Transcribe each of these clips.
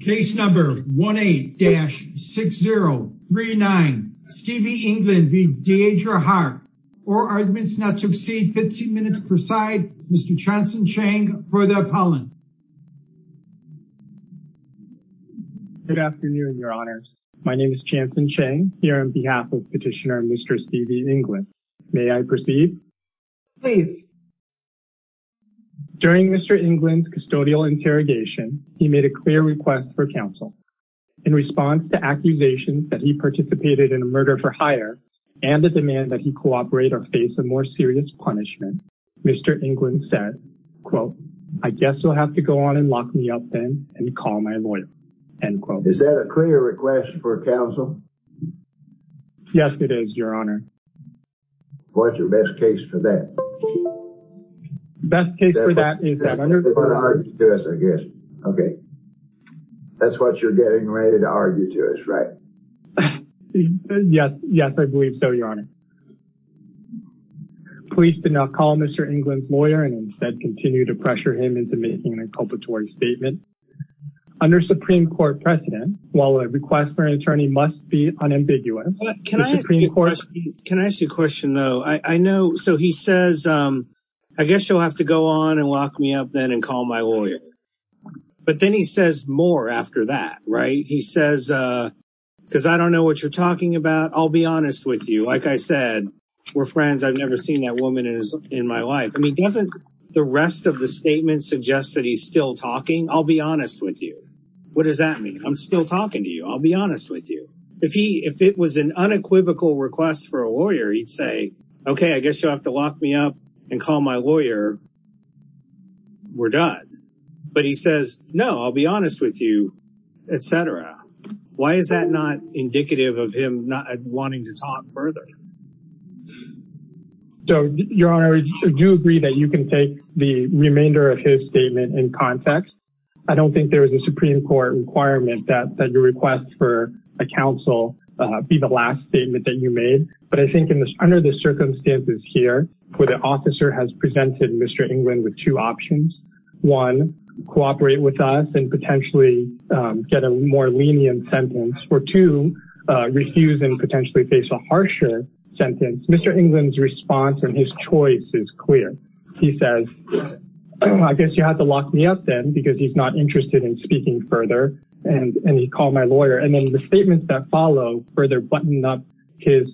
Case number 18-6039 Stevie England v. DeEdra Hart. All arguments not to exceed 15 minutes preside. Mr. Chanson Cheng for the appellant. Good afternoon your honors. My name is Chanson Cheng here on behalf of Petitioner Mr. Stevie England. May I proceed? Please. During Mr. England's custodial interrogation he made a clear request for counsel. In response to accusations that he participated in a murder for hire and the demand that he cooperate or face a more serious punishment, Mr. England said, quote, I guess you'll have to go on and lock me up then and call my lawyer, end quote. Is that a clear request for counsel? Yes it is your honor. What's your best case for that? That's what you're getting ready to argue to us right? Yes yes I believe so your honor. Police did not call Mr. England's lawyer and instead continued to pressure him into making an inculpatory statement. Under Supreme Court precedent while a request for an Can I ask you a question though? I know so he says I guess you'll have to go on and lock me up then and call my lawyer. But then he says more after that right? He says because I don't know what you're talking about I'll be honest with you. Like I said we're friends I've never seen that woman in my life. I mean doesn't the rest of the statement suggest that he's still talking? I'll be honest with you. What does that mean? I'm still talking to you. I'll be honest with you. If he if it was an unequivocal request for a lawyer he'd say okay I guess you'll have to lock me up and call my lawyer. We're done. But he says no I'll be honest with you etc. Why is that not indicative of him not wanting to talk further? So your honor I do agree that you can take the remainder of his statement in context. I don't think there was a Supreme Court requirement that your request for a counsel be the last statement that you made. But I think in this under the circumstances here where the officer has presented Mr. England with two options. One cooperate with us and potentially get a more lenient sentence. Or two refuse and potentially face a harsher sentence. Mr. England's response and his choice is clear. He says I guess you have to lock me up then because he's not interested in speaking further and he called my lawyer. And then the statements that follow further buttoned up his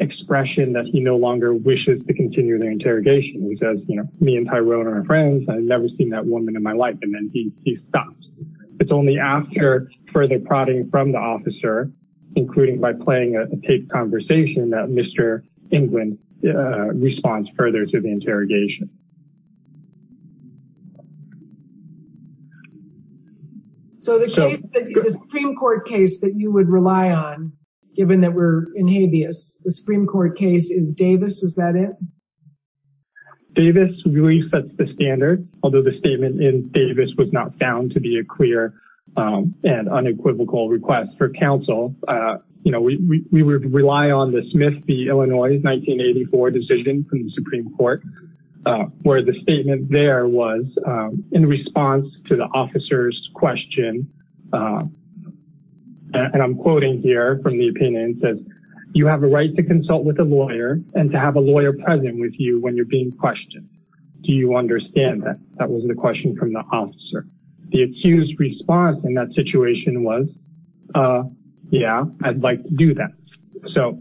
expression that he no longer wishes to continue their interrogation. He says you know me and Tyrone are friends. I've never seen that woman in my life. And then he stops. It's only after further prodding from the officer including by playing a tape conversation that Mr. England responds further to the interrogation. So the Supreme Court case that you would rely on given that we're in habeas. The Supreme Court case is Davis. Is that it? Davis really sets the standard. Although the statement in Davis was not found to be a clear and unequivocal request for counsel. You know we would rely on the Smith v. Illinois 1984 decision from the to the officer's question. And I'm quoting here from the opinion that you have a right to consult with a lawyer and to have a lawyer present with you when you're being questioned. Do you understand that? That wasn't a question from the officer. The accused response in that situation was yeah I'd like to do that. So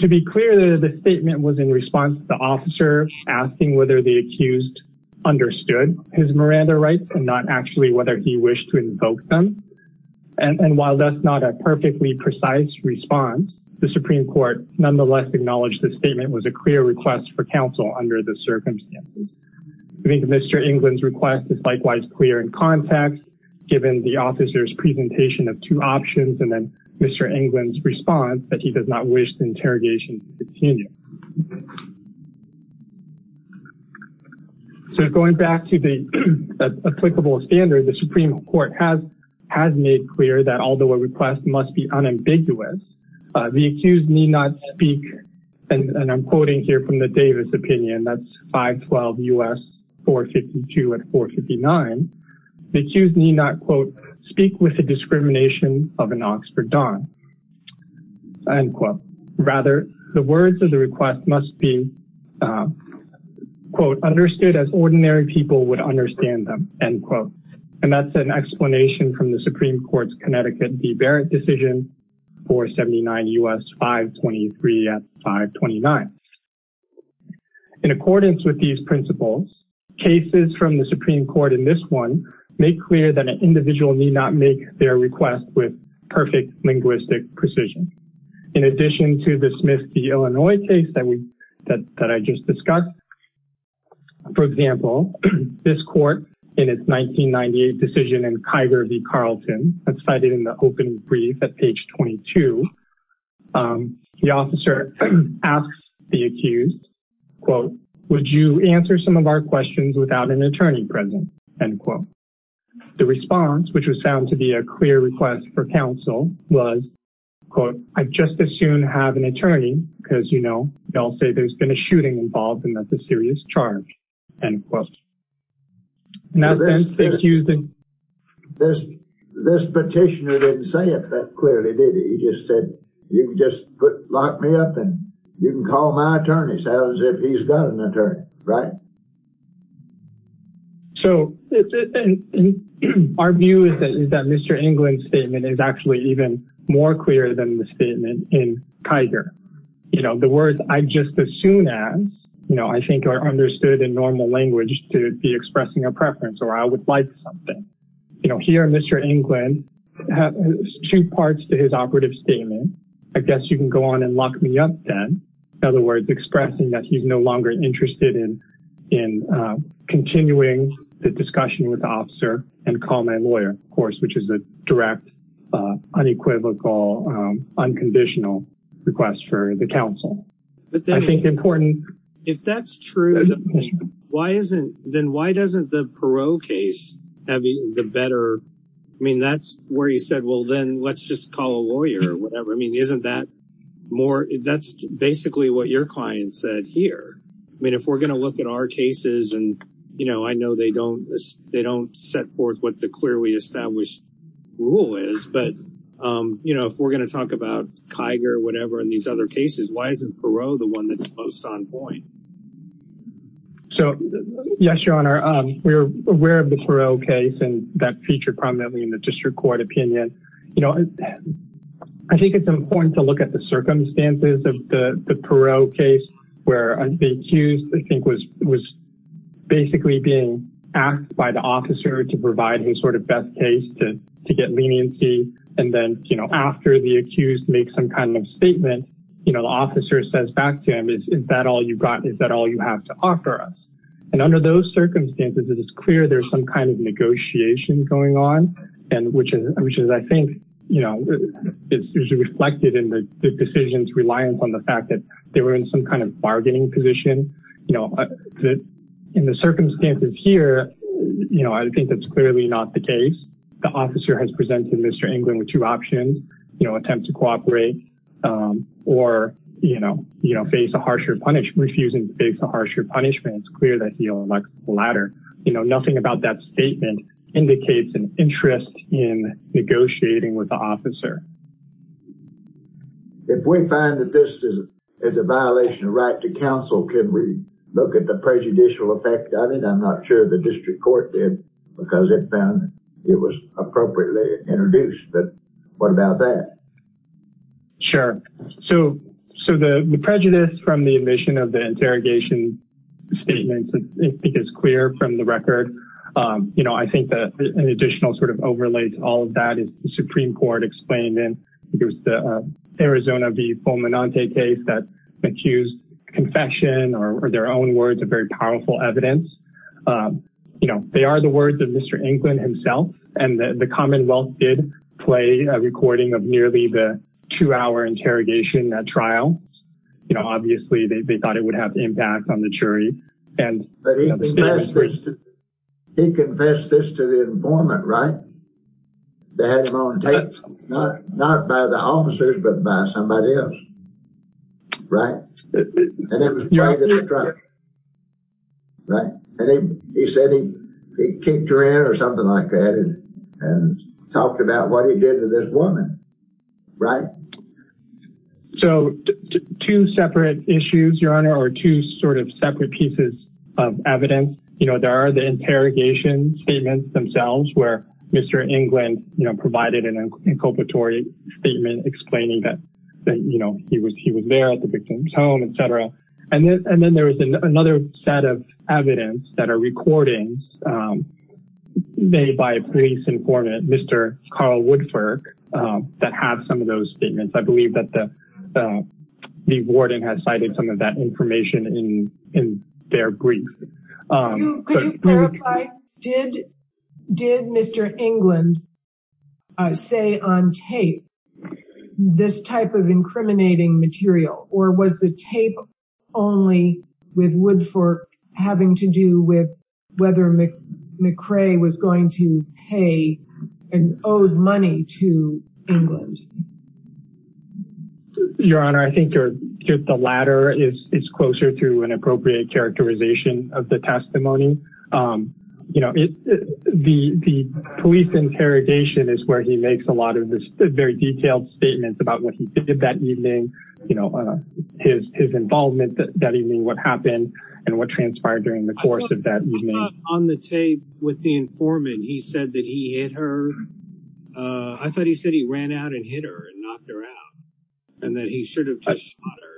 to be clear the statement was in response to the officer asking whether the accused understood his Miranda rights and not actually whether he wished to invoke them. And while that's not a perfectly precise response the Supreme Court nonetheless acknowledged the statement was a clear request for counsel under the circumstances. I think Mr. England's request is likewise clear in context given the officer's presentation of two options and then Mr. England's response that he does not wish the interrogation to continue. So going back to the applicable standard the Supreme Court has has made clear that although a request must be unambiguous the accused need not speak and I'm quoting here from the Davis opinion that's 512 U.S. 452 and 459. The accused need not quote speak with the discrimination of an Oxford Don. End quote. Rather the words of the request must be quote understood as ordinary people would understand them. End quote. And that's an explanation from the Supreme Court's Connecticut de Barrett decision 479 U.S. 523 at 529. In accordance with these principles cases from the Supreme Court in this one make clear that an individual need not make their request with perfect linguistic precision. In addition to dismiss the Illinois case that we that I just discussed for example this court in its 1998 decision in Kiger v Carlton that's cited in the open brief at page 22 the officer asks the accused quote would you answer some of our questions without an attorney present. End quote. The response which was to be a clear request for counsel was quote I'd just as soon have an attorney because you know they'll say there's been a shooting involved and that's a serious charge. End quote. Now this is using this this petitioner didn't say it that clearly did he just said you can just put lock me up and you can call my attorney right. So our view is that Mr. England's statement is actually even more clear than the statement in Kiger. You know the words I'd just as soon as you know I think are understood in normal language to be expressing a preference or I would like something. You know here Mr. England has two parts to his operative statement. I guess you can go on and lock me up then. In other words expressing that he's no longer interested in continuing the discussion with the officer and call my lawyer of course which is a direct unequivocal unconditional request for the counsel. I think important. If that's true why isn't then why doesn't the Perot case have the better I mean that's where you said well then let's just call a lawyer or whatever I mean isn't that more that's basically what your client said here. I mean if we're gonna look at our cases and you know I know they don't they don't set forth what the clearly established rule is but you know if we're gonna talk about Kiger whatever in these other cases why isn't Perot the one that's most on point. So yes your honor we're aware of the Perot case and that featured prominently in the district court opinion. You know I think it's important to look at the Perot case where the accused I think was basically being asked by the officer to provide his sort of best case to get leniency and then you know after the accused makes some kind of statement you know the officer says back to him is is that all you've got is that all you have to offer us and under those circumstances it is clear there's some kind of negotiation going on and which is I think you know it's usually reflected in the decisions reliant on the fact that they were in some kind of bargaining position you know that in the circumstances here you know I think that's clearly not the case the officer has presented Mr. England with two options you know attempt to cooperate or you know you know face a harsher punishment refusing to face a harsher punishment it's clear that he'll elect the latter you know nothing about that statement indicates an interest in negotiating with the officer. If we find that this is as a violation of right to counsel can we look at the prejudicial effect I mean I'm not sure the district court did because it found it was appropriately introduced but what about that? Sure so so the prejudice from the admission of the interrogation statement I think it's clear from the record you know I think that an additional sort of overlay to all of that is the Supreme Court explained in the Arizona v. Fulminante case that accused confession or their own words are very powerful evidence you know they are the words of Mr. England himself and the Commonwealth did play a recording of nearly the two hour interrogation at trial you know obviously they thought it would have not by the officers but by somebody else right and he said he kicked her in or something like that and talked about what he did to this woman right so two separate issues your honor or two sort of separate pieces of evidence you know there are the interrogation statements themselves where Mr. England you know did an inculpatory statement explaining that you know he was he was there at the victim's home etc and then and then there was another set of evidence that are recordings made by a police informant Mr. Carl Woodford that have some of those statements I believe that the warden has cited some of that say on tape this type of incriminating material or was the tape only with Woodford having to do with whether McCray was going to pay and owed money to England your honor I think you're the latter is it's closer to an appropriate characterization of the testimony you know it the police interrogation is where he makes a lot of this very detailed statements about what he did that evening you know his involvement that evening what happened and what transpired during the course of that on the tape with the informant he said that he hit her I thought he said he ran out and hit her and knocked her out and then he should have just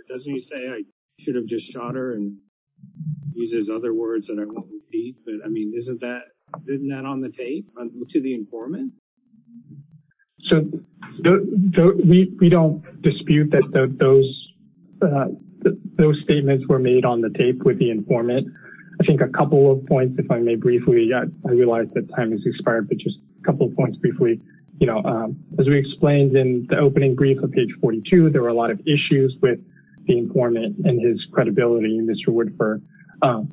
doesn't he say I should have just shot her and uses other words that I won't repeat but I mean isn't that didn't that on the tape to the informant so we don't dispute that those those statements were made on the tape with the informant I think a couple of points if I may briefly yet I realize that time is expired but just a couple of points briefly you know as we explained in the opening brief of page 42 there were a lot of issues with the informant and his credibility in this reward for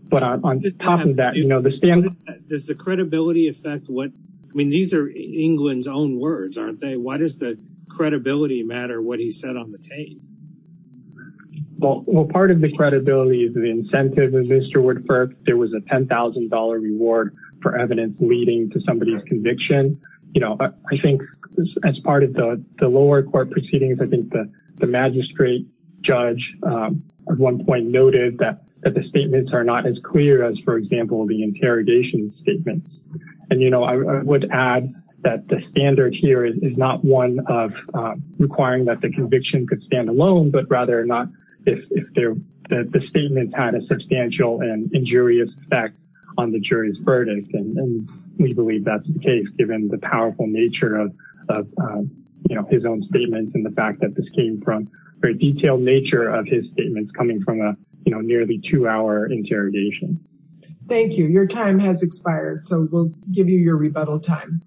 but on the top of that you know the standard does the credibility affect what I mean these are England's own words aren't they why does the credibility matter what he said on the tape well well part of the credibility is the incentive of mr. Woodford there was a $10,000 reward for evidence leading to somebody's conviction you know I think as part of the the lower court proceedings I think that the magistrate judge at one point noted that the statements are not as clear as for example the interrogation statements and you know I would add that the standard here is not one of requiring that the conviction could stand alone but rather not if they're that the statements had a substantial and injurious effect on the jury's verdict and we believe that's the case given the powerful nature of you know his own statements and the fact that this came from very detailed nature of his statements coming from a you know nearly two-hour interrogation thank you your time has expired so we'll give you your rebuttal time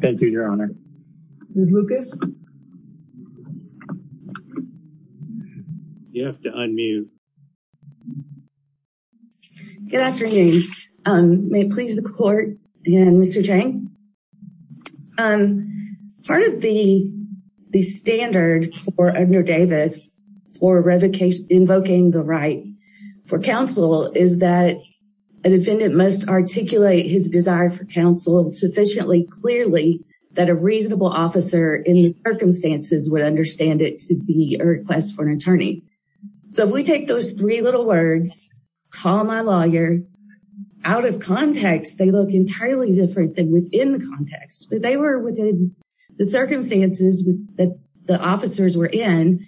thank you your honor Lucas you have to unmute good afternoon may it please the court and mr. Chang part of the the standard for under Davis for revocation invoking the right for counsel is that a defendant must articulate his desire for counsel sufficiently clearly that a reasonable officer in the circumstances would understand it to be a request for an attorney so if we take those three little words call my lawyer out of context they look entirely different within the context but they were within the circumstances that the officers were in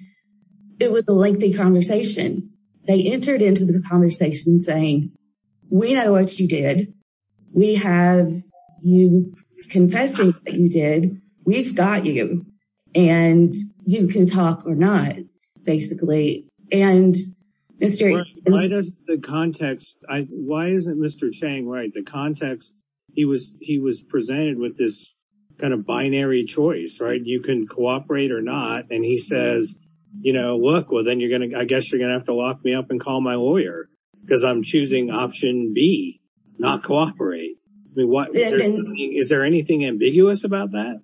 it was a lengthy conversation they entered into the conversation saying we know what you did we have you confessing that you did we've got you and you can talk or not basically and mystery why does the context I why mr. Chang right the context he was he was presented with this kind of binary choice right you can cooperate or not and he says you know look well then you're gonna I guess you're gonna have to lock me up and call my lawyer because I'm choosing option B not cooperate is there anything ambiguous about that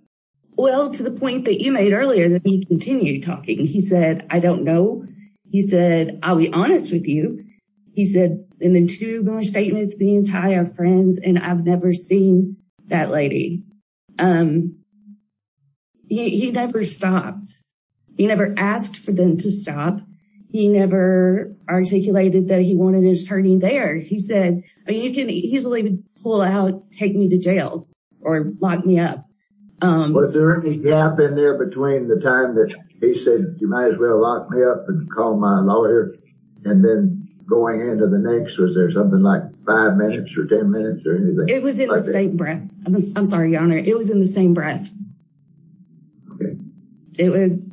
well to the point that you made earlier that he continued talking he said I don't know he said I'll be honest with you he said and then two more statements being tired friends and I've never seen that lady he never stopped he never asked for them to stop he never articulated that he wanted his hurting there he said you can easily pull out take me to jail or lock me up was there any gap in there between the time that he said you might as well lock me up and call my lawyer and then going into the next was there something like five minutes or ten minutes or anything it was in the same breath I'm sorry your honor it was in the same breath okay it was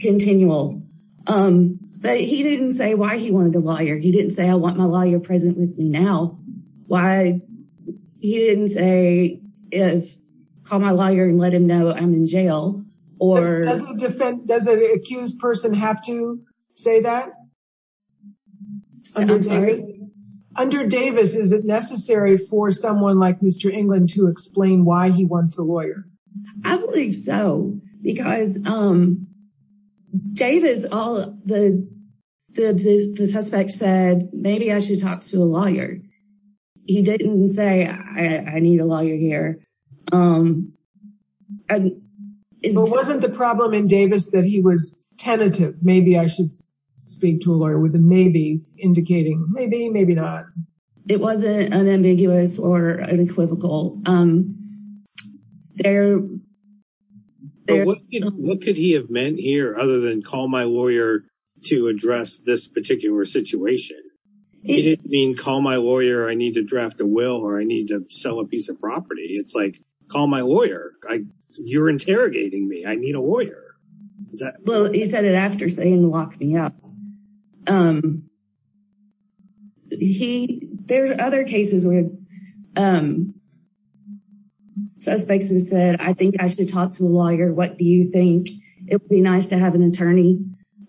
continual um but he didn't say why he wanted a lawyer he didn't say I want my lawyer present with me now why he didn't say if call my lawyer and let him know I'm in jail or doesn't defend does the accused person have to say that under Davis is it necessary for someone like mr. England to explain why he wants a lawyer I believe so because um Davis all the the suspect said maybe I should talk to a lawyer he didn't say I need a tentative maybe I should speak to a lawyer with a maybe indicating maybe maybe not it wasn't unambiguous or unequivocal there what could he have meant here other than call my lawyer to address this particular situation it didn't mean call my lawyer I need to draft a will or I need to sell a piece of property it's like call my lawyer I you're interrogating me I need a lawyer well he said it after saying lock me up he there's other cases with suspects who said I think I should talk to a lawyer what do you think it'd be nice to have an attorney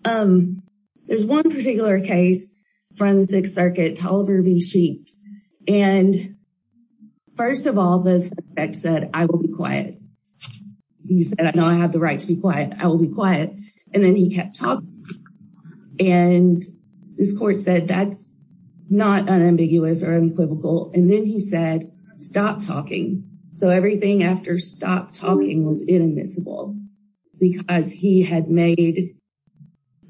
um there's one particular case from the Sixth Circuit told her V sheets and first of all this X said I will be quiet you said I know I have the right to be quiet I will be quiet and then he kept talking and this court said that's not unambiguous or unequivocal and then he said stop talking so everything after stop talking was inadmissible because he had made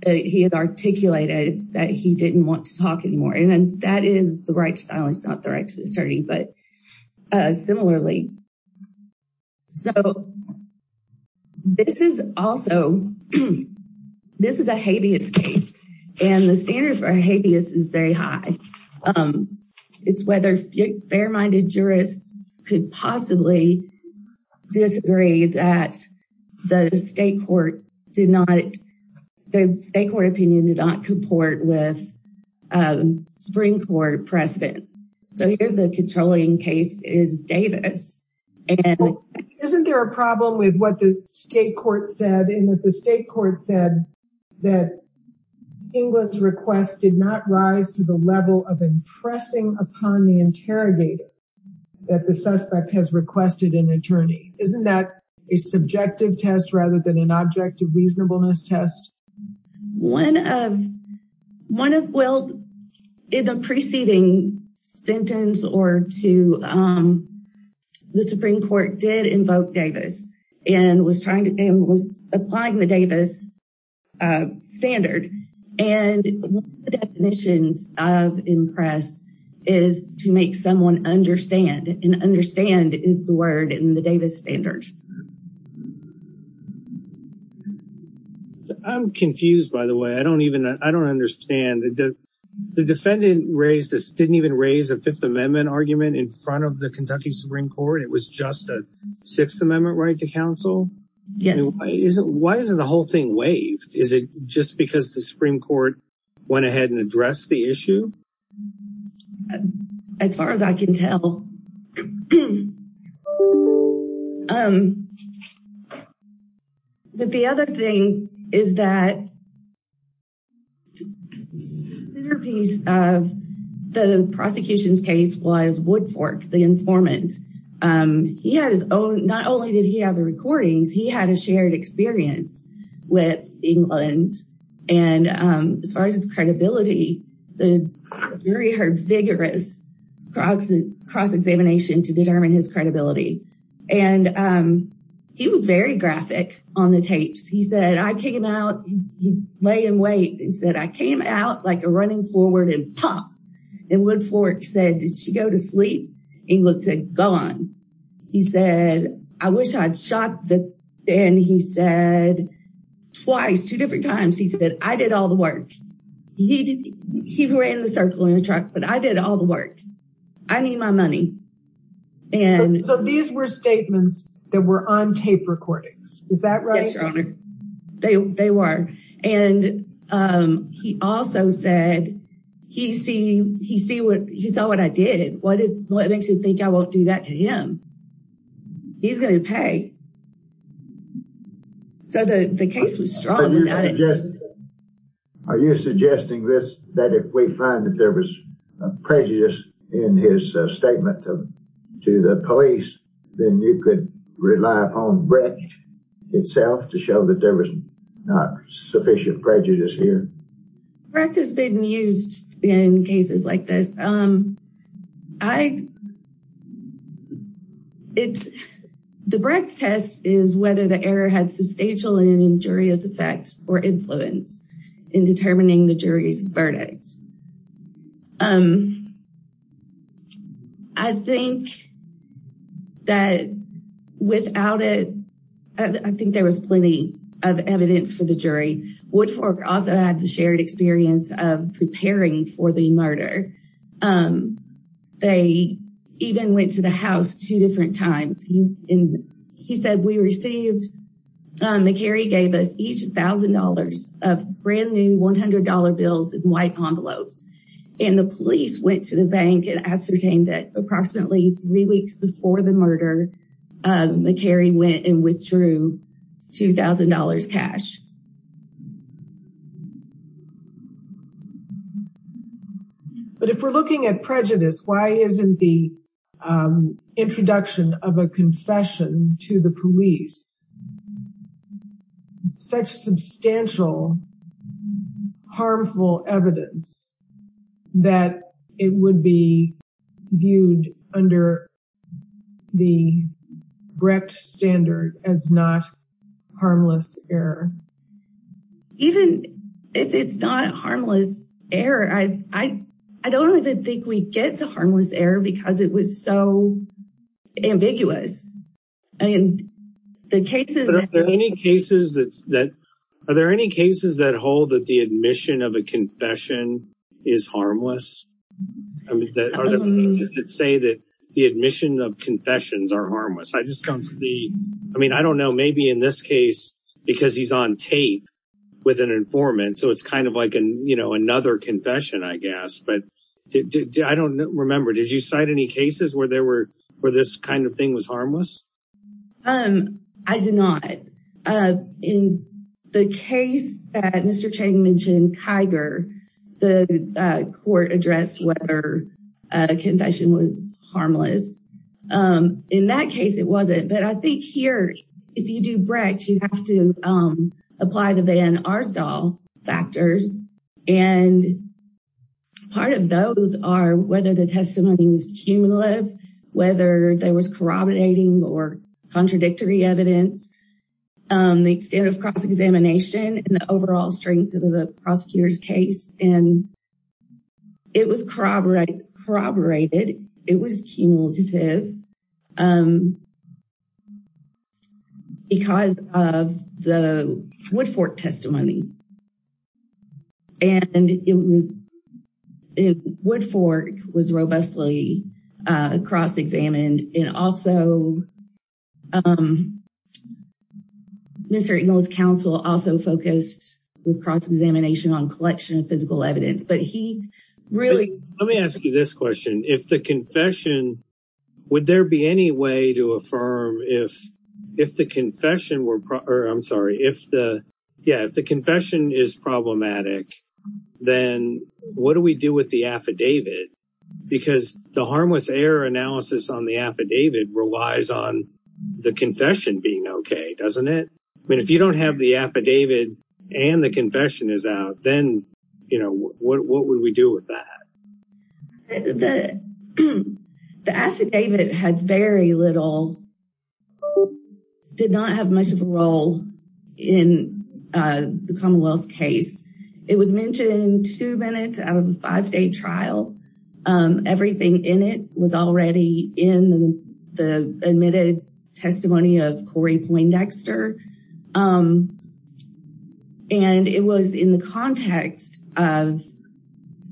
he had articulated that he didn't want to talk anymore and then that is the right it's not the right to attorney but similarly so this is also this is a habeas case and the standard for habeas is very high it's whether fair-minded jurists could possibly disagree that the state court did not the state court precedent so here the controlling case is Davis isn't there a problem with what the state court said in that the state court said that England's request did not rise to the level of impressing upon the interrogator that the suspect has requested an attorney isn't that a subjective test rather than an object of sentence or to the Supreme Court did invoke Davis and was trying to name was applying the Davis standard and definitions of impress is to make someone understand and understand is the word in the Davis standard I'm confused by the way I don't even I don't understand the defendant raised this didn't even raise a Fifth Amendment argument in front of the Kentucky Supreme Court it was just a Sixth Amendment right to counsel yes isn't why isn't the whole thing waived is it just because the Supreme Court went ahead and the prosecution's case was Woodfork the informant he had his own not only did he have the recordings he had a shared experience with England and as far as his credibility the jury heard vigorous cross cross-examination to determine his lay and wait and said I came out like a running forward and pop and Woodfork said did she go to sleep England said gone he said I wish I'd shot the and he said twice two different times he said I did all the work he did he ran the circle in a truck but I did all the work I need my money and so these were he also said he see he see what he saw what I did what is what makes you think I won't do that to him he's gonna pay so the the case was strong are you suggesting this that if we find that there was prejudice in his statement to the police then you could rely upon Brecht itself to show that there was not sufficient prejudice here practice been used in cases like this um I it's the breath test is whether the error had substantial and injurious effects or influence in determining the jury's verdicts um I think that without it I think there was plenty of evidence for the jury Woodfork also had the shared experience of preparing for the murder they even went to the house two different times he in he said we received McCary gave us each thousand dollars of brand-new $100 bills and white envelopes and the police went to the bank and ascertained that approximately three weeks before the $2,000 cash but if we're looking at prejudice why isn't the introduction of a confession to the police such substantial harmful evidence that it would be viewed under the Brecht standard as not harmless error even if it's not harmless error I I don't even think we get to harmless error because it was so ambiguous and the cases there any cases that's that are there any that hold that the admission of a confession is harmless say that the admission of confessions are harmless I just don't see I mean I don't know maybe in this case because he's on tape with an informant so it's kind of like a you know another confession I guess but I don't remember did you cite any cases where there were where this kind of thing was harmless um I did not in the case that mr. Chang mentioned Kiger the court addressed whether a confession was harmless in that case it wasn't but I think here if you do Brecht you have to apply the van Arsdal factors and part of those are whether the testimony was cumulative whether there was corroborating or contradictory evidence the extent of cross-examination and the overall strength of the prosecutors case and it was corroborated it was cumulative because of the Woodford was robustly cross-examined and also mr. Ingalls counsel also focused with cross-examination on collection of physical evidence but he really let me ask you this question if the confession would there be any way to affirm if if the confession were I'm sorry if the yeah if the confession is problematic then what do we do with the affidavit because the harmless error analysis on the affidavit relies on the confession being okay doesn't it I mean if you don't have the affidavit and the confession is out then you know what would we do with that the affidavit had very little did not have much of a role in the Commonwealth case it was mentioned two minutes out of a five-day trial everything in it was already in the admitted testimony of Corey Poindexter and it was in the context of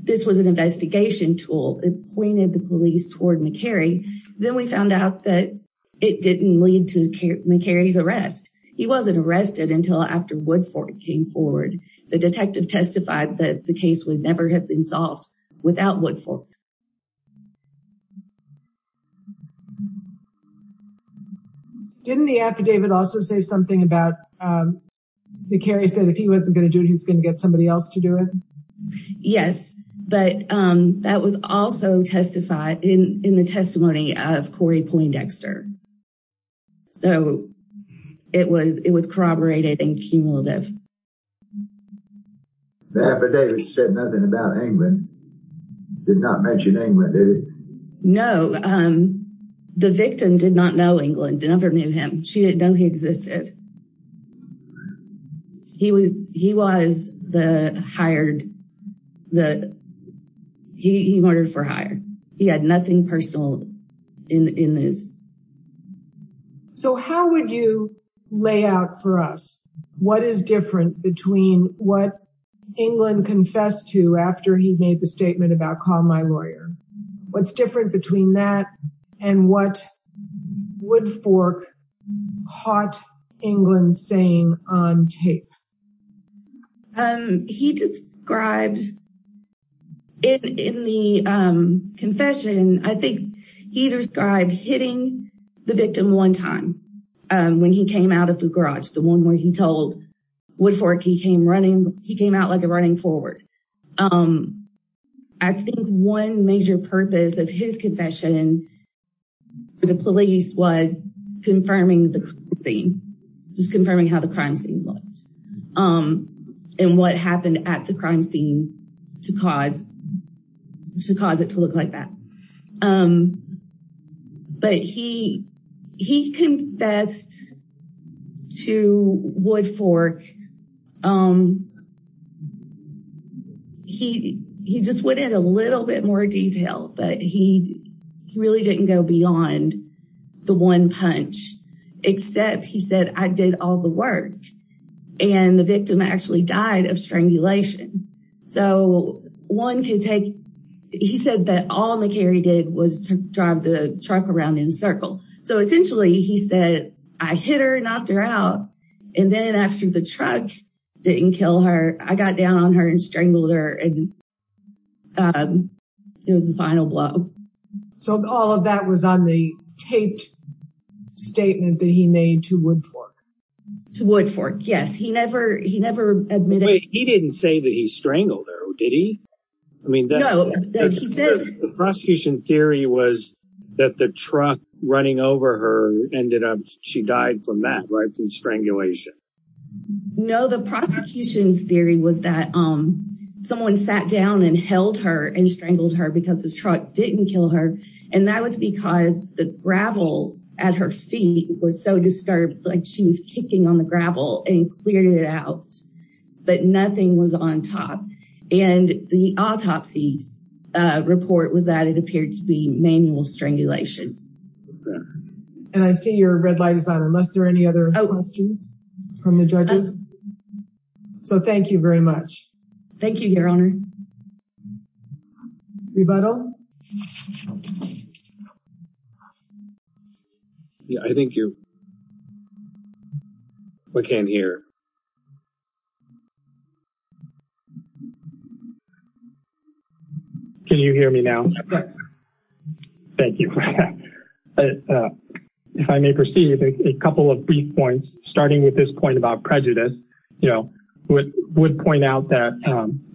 this was an investigation tool it pointed the police toward McCary then we found out that it didn't lead to McCary's arrest he wasn't arrested until after Woodford came forward the detective testified that the case would never have been solved without Woodford didn't the affidavit also say something about the carry said if he wasn't gonna do it he's gonna get somebody else to do it yes but that was also testified in the testimony of Corey Poindexter so it was it was corroborated and cumulative the affidavit said nothing about England did not mention England did it no the victim did not know England never knew him she didn't know he existed he was he hired the he murdered for hire he had nothing personal in in this so how would you lay out for us what is different between what England confessed to after he made the statement about call my lawyer what's different between that and what Woodford caught England saying on tape he described in the confession I think he described hitting the victim one time when he came out of the garage the one where he told Woodford he came running he came out like a running forward I think one major purpose of his confession the police was confirming the scene just confirming how the crime scene looked and what happened at the crime scene to cause to cause it to look like that but he he confessed to Woodford he he just went in a little bit more detail but he really didn't go beyond the one punch except he said I did all the work and the victim actually died of strangulation so one could take he said that all the carry did was to drive the truck around in a circle so essentially he said I hit her and knocked her out and then after the truck didn't kill her I got down on her and strangled her and it was the final blow so all of that was on the taped statement that he made to Woodford to Woodford yes he never he never admitted he didn't say that he strangled her did he I mean the prosecution theory was that the truck running over her ended up she died from that right through strangulation no the prosecution's theory was that um someone sat down and held her and strangled her because the truck didn't kill her and that was because the gravel at her feet was so disturbed like she was kicking on the gravel and cleared it out but nothing was on top and the autopsies report was that it appeared to be manual strangulation and I see your red light is on unless there are any other questions from the judges so thank you very much thank you your honor rebuttal yeah I think you can't hear can you hear me now yes thank you if I may proceed a couple of brief points starting with this point about prejudice you know would point out that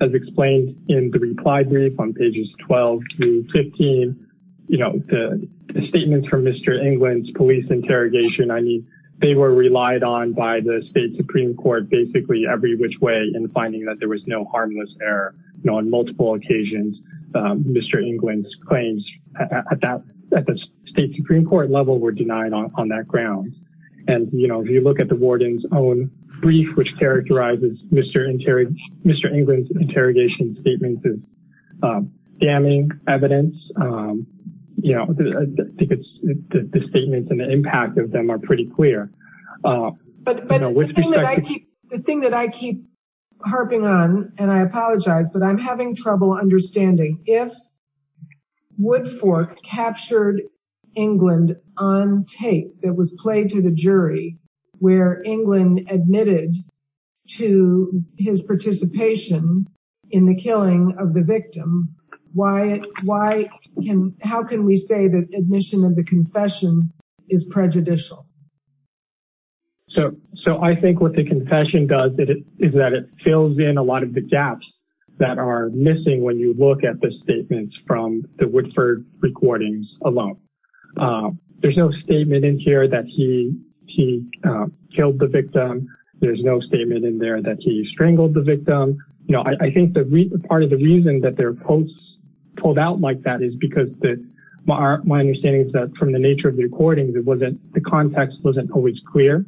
as explained in the reply brief on pages 12 through 15 you know the statements from mr. England's police interrogation I mean they were relied on by the state Supreme Court basically every which way in finding that there was no harmless error no on multiple occasions mr. England's claims at that at the state Supreme Court level were denied on that grounds and you know if you look at the warden's own brief which characterizes mr. interior mr. England's interrogation statements is damning evidence you know because the statements and the impact of them are pretty clear the thing that I keep harping on and I apologize but I'm having trouble understanding if wood captured England on tape that was played to the jury where England admitted to his participation in the killing of the victim why why can how can we say that admission of the confession is prejudicial so so I think what the confession does it is that it fills in a lot of the gaps that are missing when you look at the statements from the Woodford recordings alone there's no statement in here that he he killed the victim there's no statement in there that he strangled the victim you know I think that part of the reason that their quotes pulled out like that is because that my understanding is that from the nature of the recordings it wasn't the context wasn't always clear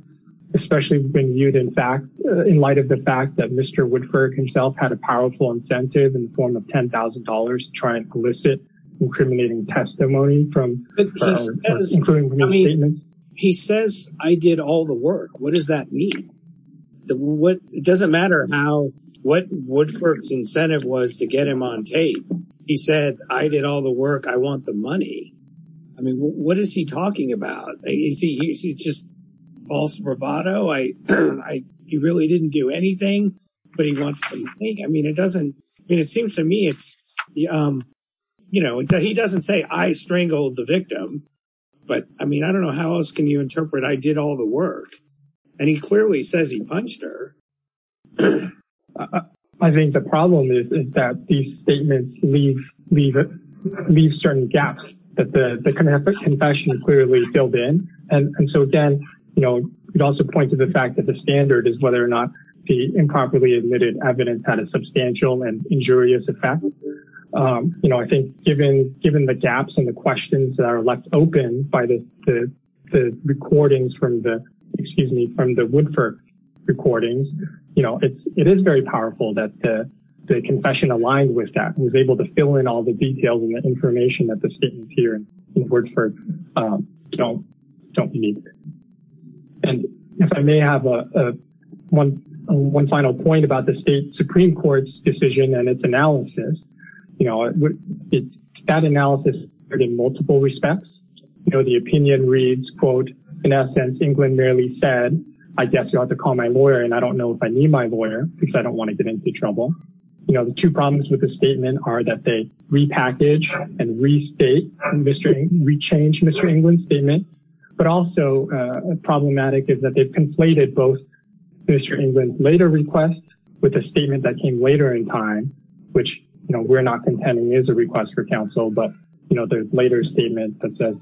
especially being viewed in fact in light of the fact that mr. Woodford himself had a thousand dollars trying to elicit incriminating testimony from he says I did all the work what does that mean what it doesn't matter how what Woodford's incentive was to get him on tape he said I did all the work I want the money I mean what is he talking about is he just false bravado I I he really didn't do anything but he wants to think I mean it doesn't mean it seems to me it's you know he doesn't say I strangled the victim but I mean I don't know how else can you interpret I did all the work and he clearly says he punched her I think the problem is is that these statements leave leave it leave certain gaps that the confession clearly filled in and so again you know it also point to the fact that the standard is whether or not the properly admitted evidence had a substantial and injurious effect you know I think given given the gaps and the questions that are left open by this the recordings from the excuse me from the Woodford recordings you know it's it is very powerful that the confession aligned with that was able to fill in all the details and the information that the students here in word for don't don't and if I may have a one one final point about the state Supreme Court's decision and its analysis you know it's that analysis are in multiple respects you know the opinion reads quote in essence England merely said I guess you ought to call my lawyer and I don't know if I need my lawyer because I don't want to get into trouble you know the two problems with the statement are that they repackage and restate industry we change mr. England's statement but also problematic is that they've conflated both mr. England's later request with a statement that came later in time which you know we're not contending is a request for counsel but you know there's later statement that says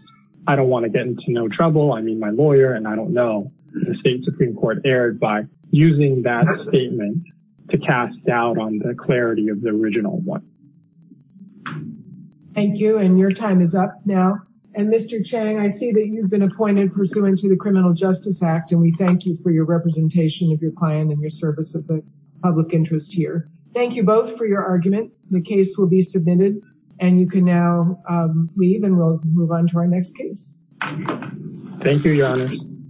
I don't want to get into no trouble I mean my lawyer and I don't know the state Supreme Court erred by using that statement to cast doubt on the clarity of the original one thank you and your time is up now and mr. Chang I see that you've been appointed pursuant to the Criminal Justice Act and we thank you for your representation of your client and your service of the public interest here thank you both for your argument the case will be submitted and you can now leave and we'll move on to our next case thank you